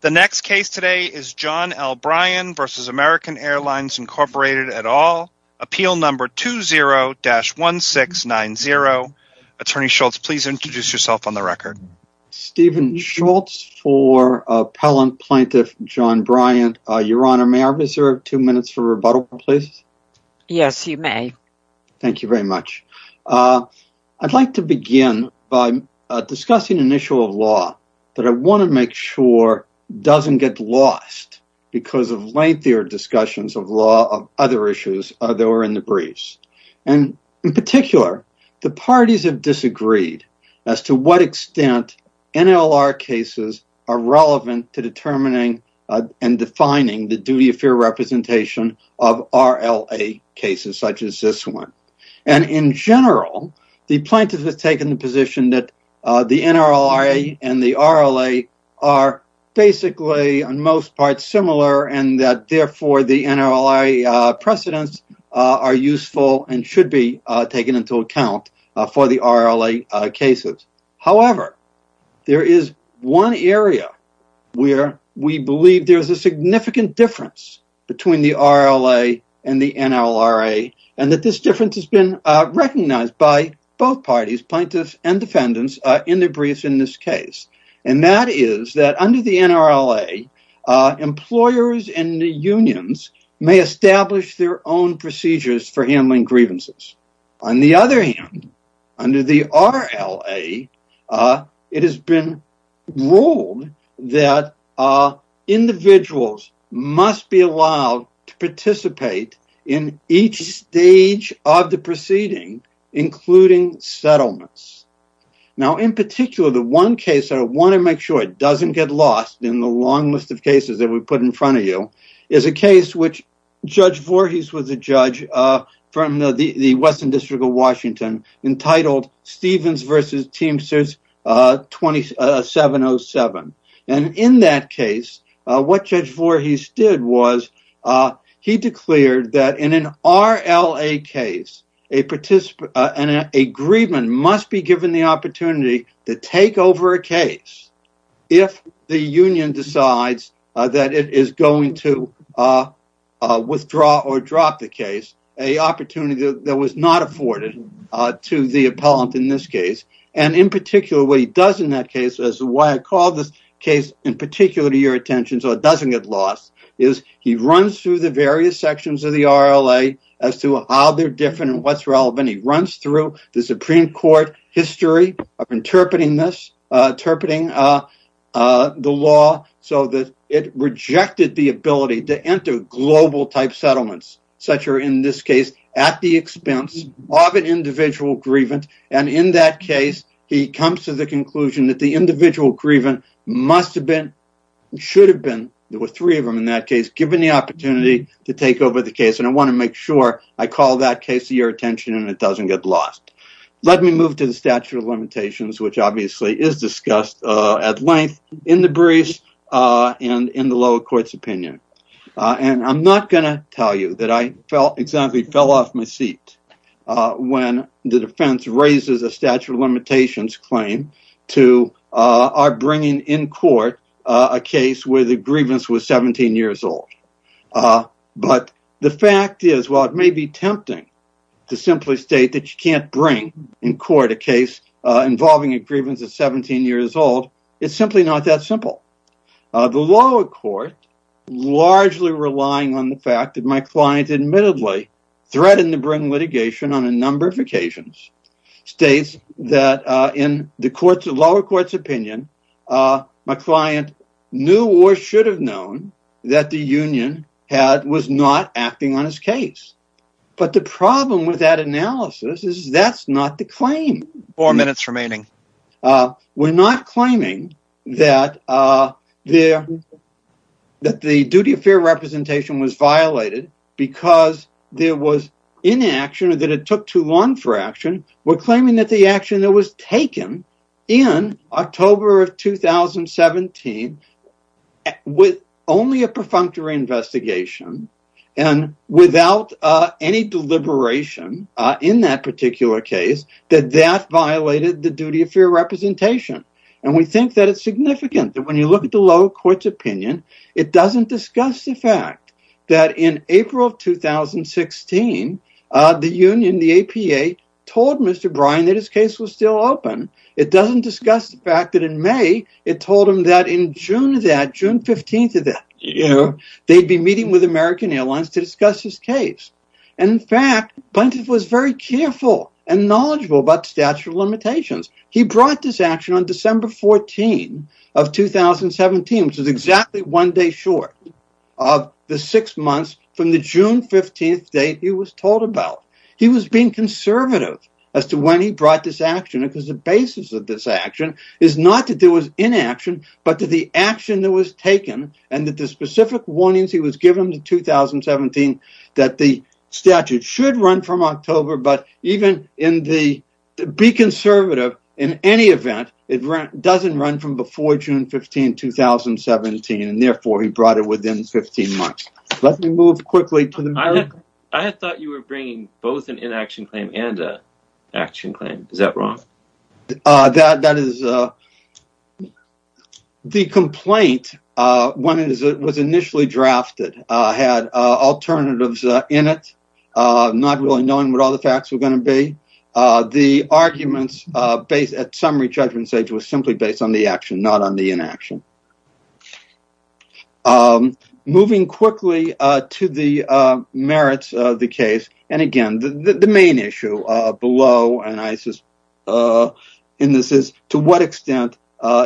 The next case today is John L. Bryant v. American Airlines, Inc. et al. Appeal No. 20-1690. Attorney Schultz, please introduce yourself on the record. Stephen Schultz for Appellant Plaintiff John Bryant. Your Honor, may I reserve two minutes for rebuttal, please? Yes, you may. Thank you very much. I'd like to begin by discussing an issue of law that I want to make sure doesn't get lost because of lengthier discussions of law of other issues that were in the briefs. In particular, the parties have disagreed as to what extent NLR cases are relevant to determining and defining the duty of fair representation of RLA cases, such as this one. In general, the plaintiff has taken the position that the NRLRA and the RLA are basically, on most parts, similar and that, therefore, the NRLRA precedents are useful and should be taken into account for the RLA cases. However, there is one area where we believe there's a difference that's been recognized by both parties, plaintiffs and defendants, in the briefs in this case, and that is that under the NRLRA, employers and the unions may establish their own procedures for handling grievances. On the other hand, under the RLA, it has been ruled that individuals must be allowed to participate in each stage of the proceeding, including settlements. Now, in particular, the one case that I want to make sure doesn't get lost in the long list of cases that we put in front of you is a case in which Judge Voorhees was a judge from the Western District entitled Stevens v. Teamsters 2707. In that case, what Judge Voorhees did was he declared that in an RLA case, an agreement must be given the opportunity to take over a case if the union decides that it is going to withdraw or drop the case, an opportunity that was not afforded to the appellant in this case. In particular, what he does in that case, why I call this case in particular to your attention so it doesn't get lost, is he runs through the various sections of the RLA as to how they're different and what's relevant. He runs through the Supreme Court history of interpreting the law so that it rejected the ability to enter global type settlements, such are in this case, at the expense of an individual grievant. In that case, he comes to the conclusion that the individual grievant must have been, should have been, there were three of them in that case, given the opportunity to take over the case. I want to make sure I call that case to your attention and it doesn't get lost. Let me move to the statute of limitations, which obviously is discussed at length in the briefs and in the lower court's opinion. I'm not going to tell you that I fell off my seat when the defense raises a statute of limitations claim to our bringing in court a case where the grievance was 17 years old. But the fact is, while it may be tempting to simply state that you can't bring in court a case involving a grievance of 17 years old, it's simply not that simple. The lower court, largely relying on the fact that my client admittedly threatened to bring litigation on a number of occasions, states that in the lower court's opinion, my client knew or should have known that the union was not acting on his case. But the problem with that analysis is that's not the claim. Four minutes remaining. We're not claiming that the duty of fair representation was violated because there was inaction or that it took too long for action. We're claiming that the action that was taken in October of 2017 with only a perfunctory investigation and without any deliberation in that particular case, that that violated the duty of fair representation. And we think that it's significant that when you look at the lower court's opinion, it doesn't discuss the fact that in April of 2016, the union, the APA, told Mr. Bryan that his case was still open. It doesn't discuss the fact that in May, it told him that in June of that, June 15th of that year, they'd be meeting with American Airlines to discuss his case. And in fact, Buntin was very careful and knowledgeable about the statute of limitations. He brought this action on December 14 of 2017, which is exactly one day short of the six months from the June 15th date he was told about. He was being conservative as to when he brought this action because the basis of this action is not to do with inaction, but to the action that was taken and that the specific warnings he was given in 2017 that the statute should run from October. But even in the be conservative in any event, it doesn't run from June 15, 2017. And therefore he brought it within 15 months. Let me move quickly to the. I had thought you were bringing both an inaction claim and a action claim. Is that wrong? That that is the complaint. One is it was initially drafted, had alternatives in it, not really knowing what all the facts were going to be. The arguments based at summary judgment stage was simply based on the action, not on the inaction. Moving quickly to the merits of the case. And again, the main issue below and ISIS in this is to what extent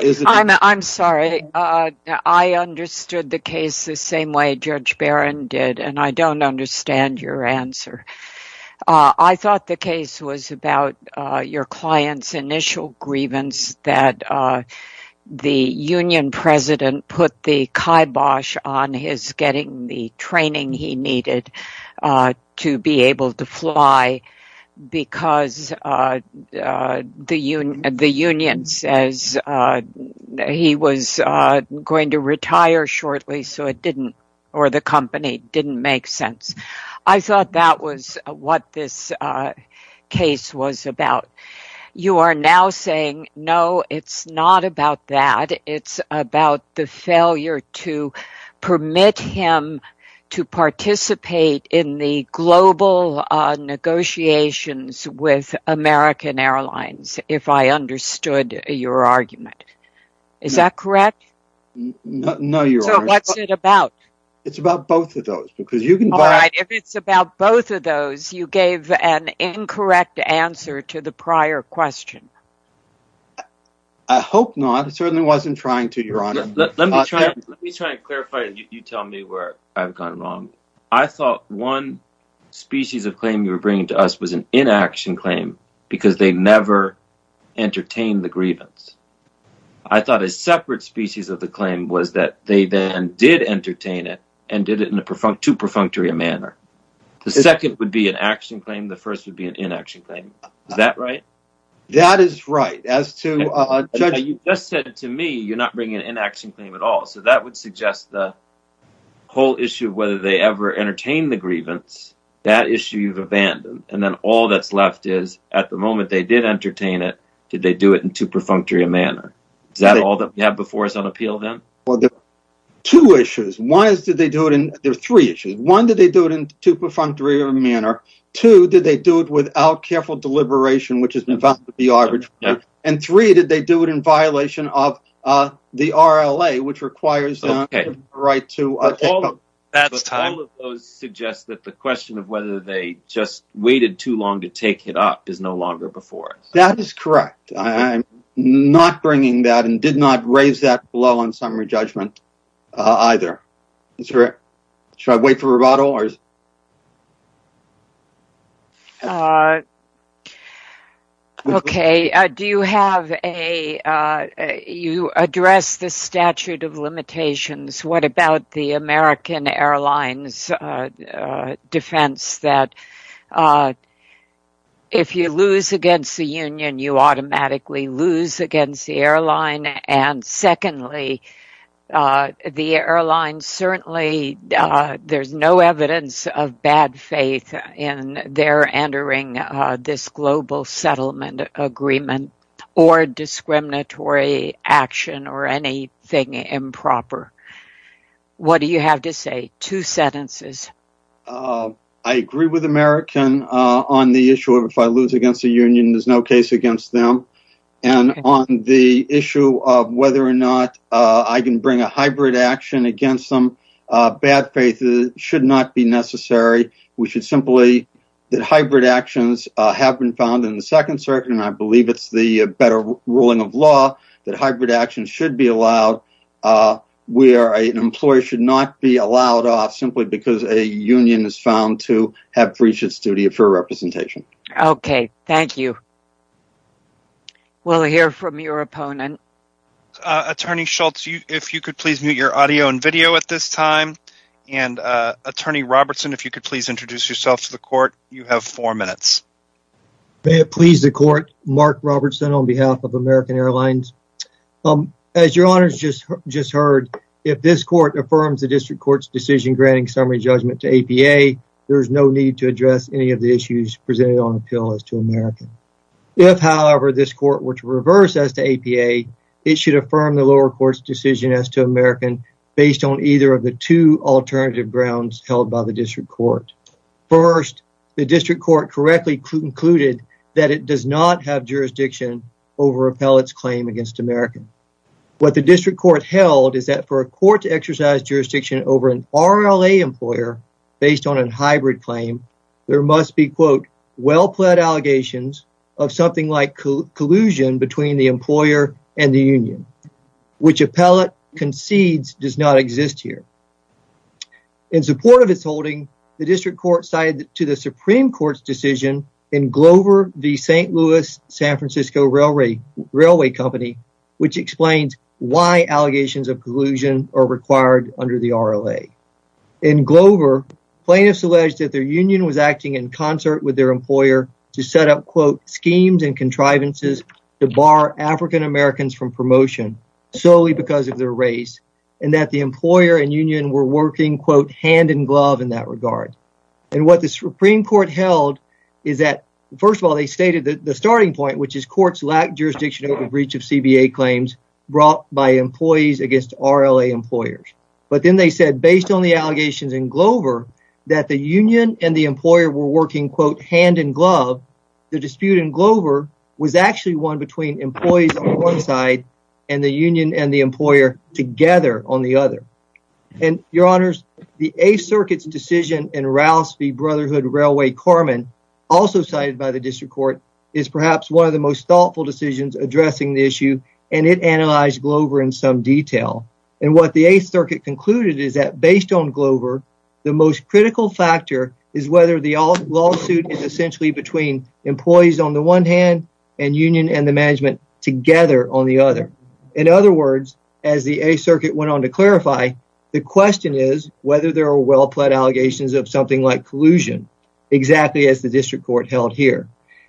is. I'm sorry. I understood the case the same way Judge Barron did, and I don't understand your answer. I thought the case was about your client's initial grievance that the union president put the kibosh on his getting the training he needed to be able to fly because the union says he was going to retire shortly. So it didn't or the company didn't make sense. I thought that was what this case was about. You are now saying, no, it's not about that. It's about the failure to permit him to participate in the global negotiations with American Airlines. If I understood your argument, is that correct? No, your honor. So what's it about? It's about both of those because you can buy it. If it's about both of those, you gave an incorrect answer to the prior question. I hope not. I certainly wasn't trying to, your honor. Let me try. Let me try and clarify it. You tell me where I've gone wrong. I thought one species of claim you were bringing to us was an inaction claim because they never entertained the grievance. I thought a separate species of the claim was that they then did entertain it and did it in a perfunctory manner. The second would be an action claim. The first would be an inaction claim. Is that right? That is right. You just said to me, you're not bringing an inaction claim at all. So that would suggest the whole issue of they ever entertained the grievance, that issue you've abandoned. Then all that's left is at the moment they did entertain it, did they do it in two perfunctory manner? Is that all that we have before us on appeal then? Well, there are two issues. There are three issues. One, did they do it in two perfunctory manner? Two, did they do it without careful deliberation, which has been found to be arbitrary? Three, did they do it in violation of the RLA, which requires them a right to... All of those suggest that the question of whether they just waited too long to take it up is no longer before us. That is correct. I'm not bringing that and did not raise that blow on summary judgment either. Should I wait for a rebuttal? Okay. You addressed the statute of the American Airlines defense that if you lose against the union, you automatically lose against the airline. Secondly, the airline certainly, there's no evidence of bad faith in their entering this global settlement agreement or discriminatory action or anything improper. What do you have to say? Two sentences. I agree with American on the issue of if I lose against the union, there's no case against them. On the issue of whether or not I can bring a hybrid action against them, bad faith should not be necessary. We should simply... That hybrid actions have been found in the second circuit, and I believe it's the better ruling of law that hybrid action should be allowed where an employee should not be allowed off simply because a union is found to have breach of duty for representation. Okay. Thank you. We'll hear from your opponent. Attorney Schultz, if you could please mute your audio and video at this time. And Attorney Robertson, if you could please introduce yourself to the court, you have four minutes. May it please the court. Mark Robertson on behalf of American Airlines. As your honors just heard, if this court affirms the district court's decision granting summary judgment to APA, there's no need to address any of the issues presented on appeal as to American. If however, this court were to reverse as to APA, it should affirm the lower court's decision as to American based on either of the two alternative grounds held by the district court. First, the district court correctly concluded that it does not have jurisdiction over appellate's claim against American. What the district court held is that for a court to exercise jurisdiction over an RLA employer based on a hybrid claim, there must be quote, well-pled allegations of something like collusion between the employer and the union, which appellate concedes does not exist here. In support of its holding, the district court cited to the Supreme Court's decision in Glover v. St. Louis San Francisco Railway Company, which explains why allegations of collusion are required under the RLA. In Glover, plaintiffs alleged that their union was acting in concert with their employer to set up quote, schemes and contrivances to bar African Americans from promotion solely because of their race, and that the employer and union were working quote, hand in glove in that regard. And what the Supreme Court held is that first of all, they stated that the starting point, which is courts lack jurisdiction over breach of CBA claims brought by employees against RLA employers. But then they said based on the allegations in Glover, that the union and the employer were working quote, hand in glove. The dispute in Glover was actually one between employees on one side and the union and the employer together on the other. And your honors, the Eighth Circuit's decision in Rouse v. Brotherhood Railway Carman, also cited by the district court, is perhaps one of the most thoughtful decisions addressing the issue, and it analyzed Glover in some detail. And what the Eighth Circuit concluded is that based on Glover, the most critical factor is whether the lawsuit is essentially between employees on the one hand and union and the management together on the other. In other words, as the Eighth Circuit went on to clarify, the question is whether there are well-pled allegations of something like collusion, exactly as the district court held here.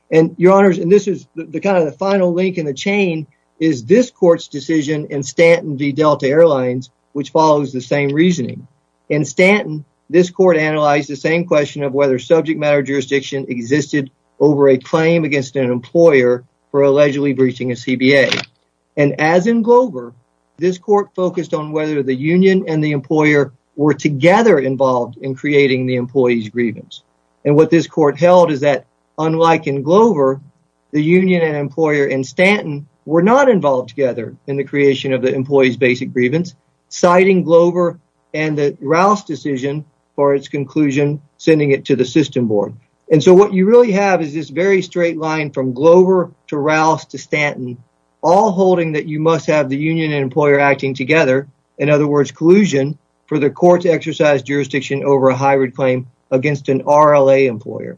And your honors, and this is the kind of final link in the chain, is this court's decision in Stanton v. Delta Airlines, which follows the same reasoning. In Stanton, this court analyzed the same question of whether subject matter jurisdiction existed over a claim against an employer for allegedly breaching a CBA. And as in Glover, this court focused on whether the union and the employer were together involved in creating the employee's grievance. And what this court held is that unlike in Glover, the union and employer in Stanton were not involved together in the creation of the employee's basic grievance, citing Glover and the Rouse decision for its conclusion, sending it to the system board. And so what you really have is this very straight line from Glover to Rouse to Stanton, all holding that you must have the union and employer acting together. In other words, collusion for the court to exercise jurisdiction over a hybrid claim against an RLA employer.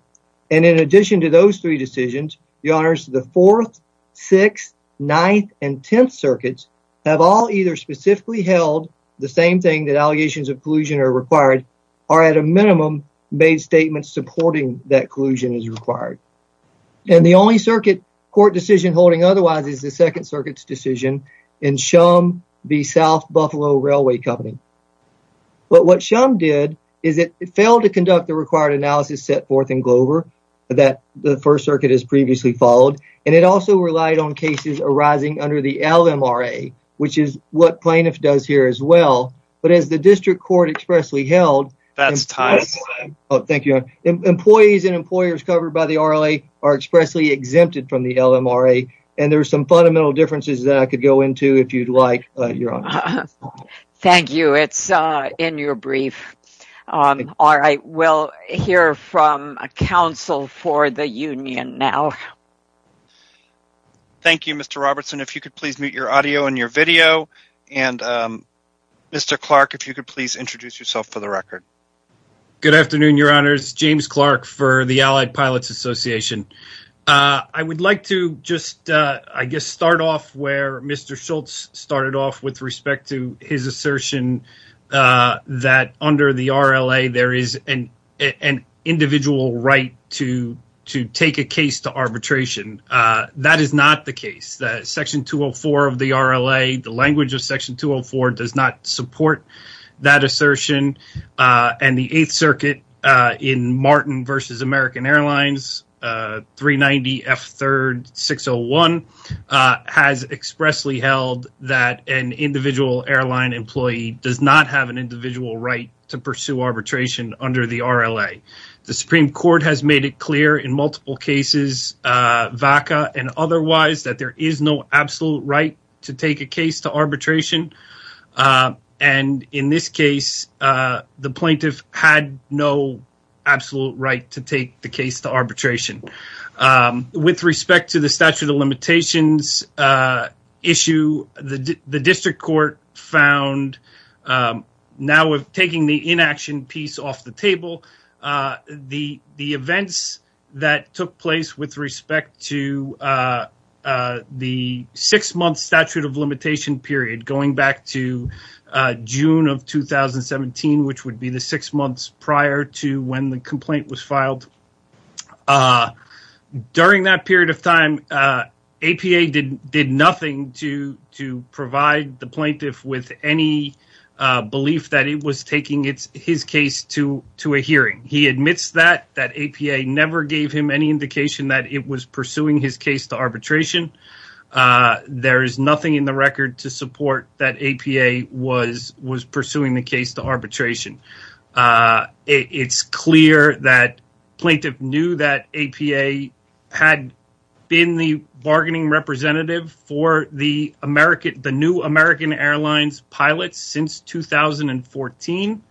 And in addition to those three decisions, your honors, the 4th, 6th, 9th, and 10th circuits have all either specifically held the same thing that allegations of collusion are required, or at a minimum made statements supporting that collusion is required. And the only circuit court decision holding otherwise is the 2nd Circuit's decision in Shum v. South to conduct the required analysis set forth in Glover that the 1st Circuit has previously followed. And it also relied on cases arising under the LMRA, which is what plaintiff does here as well. But as the district court expressly held, employees and employers covered by the RLA are expressly exempted from the LMRA. And there's some fundamental differences that I could go into if you'd like. Thank you. It's in your brief. All right. We'll hear from a counsel for the union now. Thank you, Mr. Robertson. If you could please mute your audio and your video. And Mr. Clark, if you could please introduce yourself for the record. Good afternoon, your honors. James Clark for the Allied Pilots Association. I would like to just, I guess, start off where Mr. Schultz started off with respect to his assertion that under the RLA, there is an individual right to take a case to arbitration. That is not the case. Section 204 of the RLA, the language of American Airlines, 390F3-601, has expressly held that an individual airline employee does not have an individual right to pursue arbitration under the RLA. The Supreme Court has made it clear in multiple cases, VACA and otherwise, that there is no absolute right to take a case to arbitration. And in this case, the plaintiff had no absolute right to take the case to arbitration. With respect to the statute of limitations issue, the district court found, now we're taking the inaction piece off the table, the events that took place with respect to the six-month statute of limitation period going back to June of 2017, which would be the six months prior to when the complaint was filed. During that period of time, APA did nothing to provide the plaintiff with any belief that it was taking his case to a hearing. He admits that, that APA never gave him any indication that it was arbitration. There is nothing in the record to support that APA was pursuing the case to arbitration. It's clear that the plaintiff knew that APA had been the bargaining representative for the new American Airlines pilots since 2014.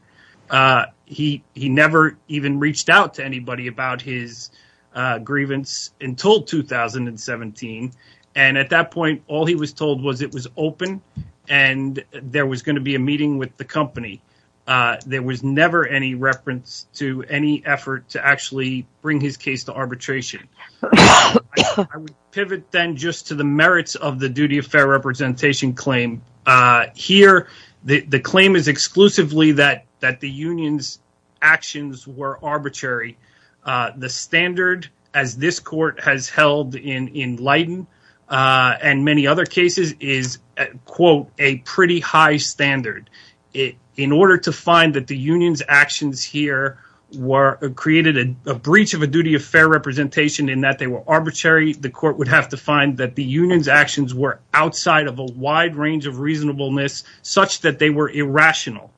He never even reached out to anybody about his until 2017. And at that point, all he was told was it was open and there was going to be a meeting with the company. There was never any reference to any effort to actually bring his case to arbitration. I would pivot then just to the merits of the duty of fair representation claim. Here, the claim is exclusively that the union's actions were arbitrary. The standard, as this court has held in Leighton and many other cases, is, quote, a pretty high standard. In order to find that the union's actions here created a breach of a duty of fair representation in that they were arbitrary, the court would have to find that the union's actions were outside of a wide range of reasonableness such that they were irrational.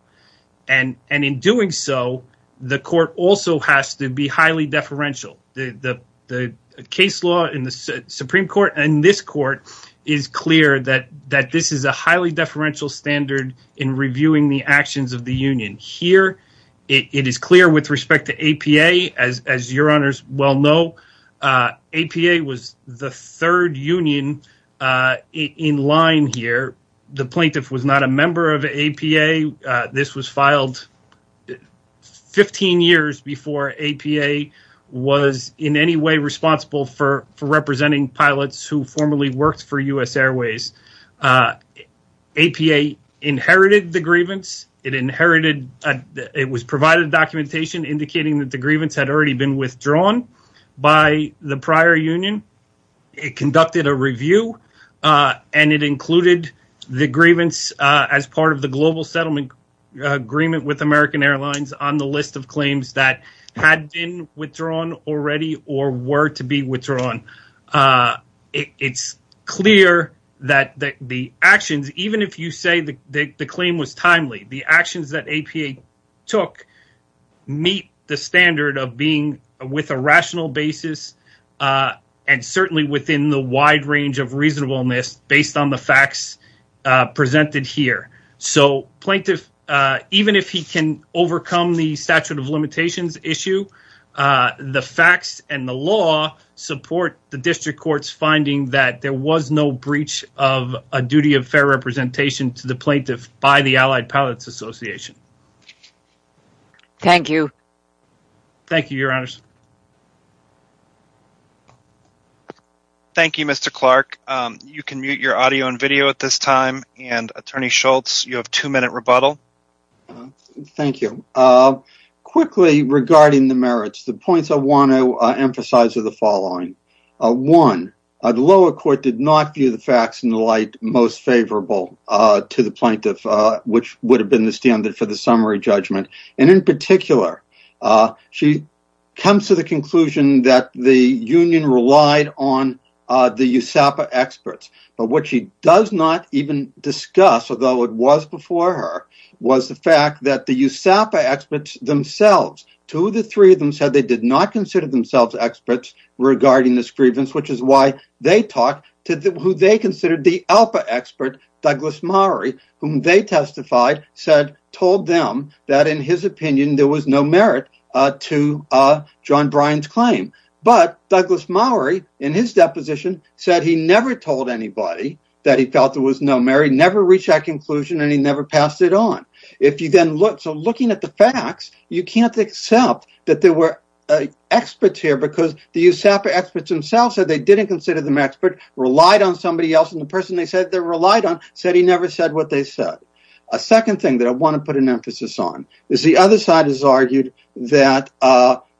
And in doing so, the court also has to be highly deferential. The case law in the Supreme Court and this court is clear that this is a highly deferential standard in reviewing the actions of the union. Here, it is clear with respect to APA, as your honors well know, APA was the third union in line here. The plaintiff was not a member of APA. This was filed 15 years before APA was in any way responsible for representing pilots who formerly worked for US Airways. APA inherited the grievance. It was provided documentation indicating that the grievance had already been withdrawn by the prior union. It conducted a review and it included the grievance as part of the global settlement agreement with American Airlines on the list of claims that had been withdrawn already or were to be withdrawn. It's clear that the actions, even if you say the claim was timely, the actions that APA took meet the standard of being with a rational basis and certainly within the wide range of reasonableness based on the facts presented here. So plaintiff, even if he can overcome the statute of limitations issue, the facts and the law support the district court's finding that there was no breach of a duty of fair representation to the plaintiff by the Allied Pilots Association. Thank you. Thank you, your honors. Thank you, Mr. Clark. You can mute your audio and video at this time. And Attorney Schultz, you have two minute rebuttal. Thank you. Quickly regarding the merits, the points I want to emphasize are the following. One, the lower court did not view the most favorable to the plaintiff, which would have been the standard for the summary judgment. And in particular, she comes to the conclusion that the union relied on the USAPA experts. But what she does not even discuss, although it was before her, was the fact that the USAPA experts themselves, two of the three of them said they did not consider themselves experts regarding this grievance, which is why they talked to who they considered the ALPA expert, Douglas Mowry, whom they testified, said, told them that in his opinion, there was no merit to John Bryan's claim. But Douglas Mowry, in his deposition, said he never told anybody that he felt there was no merit, never reached that conclusion, and he never passed it on. If you then look, so looking at the facts, you can't accept that there were experts here because the USAPA experts themselves said they didn't consider them experts, relied on somebody else, and the person they said they relied on said he never said what they said. A second thing that I want to put an emphasis on is the other side has argued that,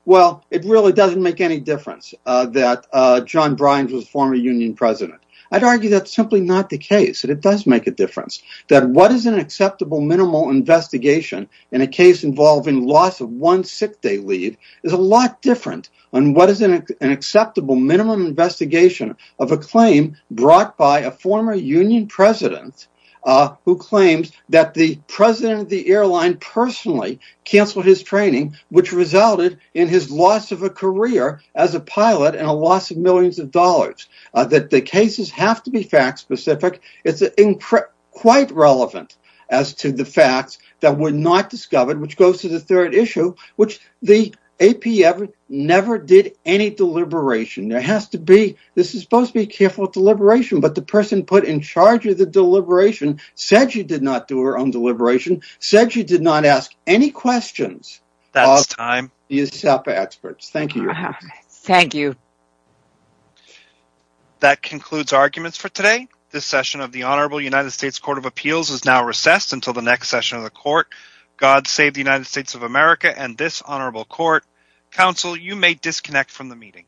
well, it really doesn't make any difference that John Bryan was a former union president. I'd argue that's simply not the case, that it does make a difference, that what is an acceptable minimal investigation in a case involving loss of one sick day leave is a lot different on what is an acceptable minimum investigation of a claim brought by a former union president who claims that the president of the airline personally canceled his training, which resulted in his loss of a career as a pilot and a loss of millions of dollars, that the cases have to be fact-specific. It's quite relevant as to the facts that were not discovered, which goes to the third deliberation. There has to be, this is supposed to be a careful deliberation, but the person put in charge of the deliberation said she did not do her own deliberation, said she did not ask any questions of the USAPA experts. Thank you. Thank you. That concludes arguments for today. This session of the Honorable United States Court of Appeals is now recessed until the next session of the court, God Save the United States of America and this honorable court. Counsel, you may disconnect from the meeting.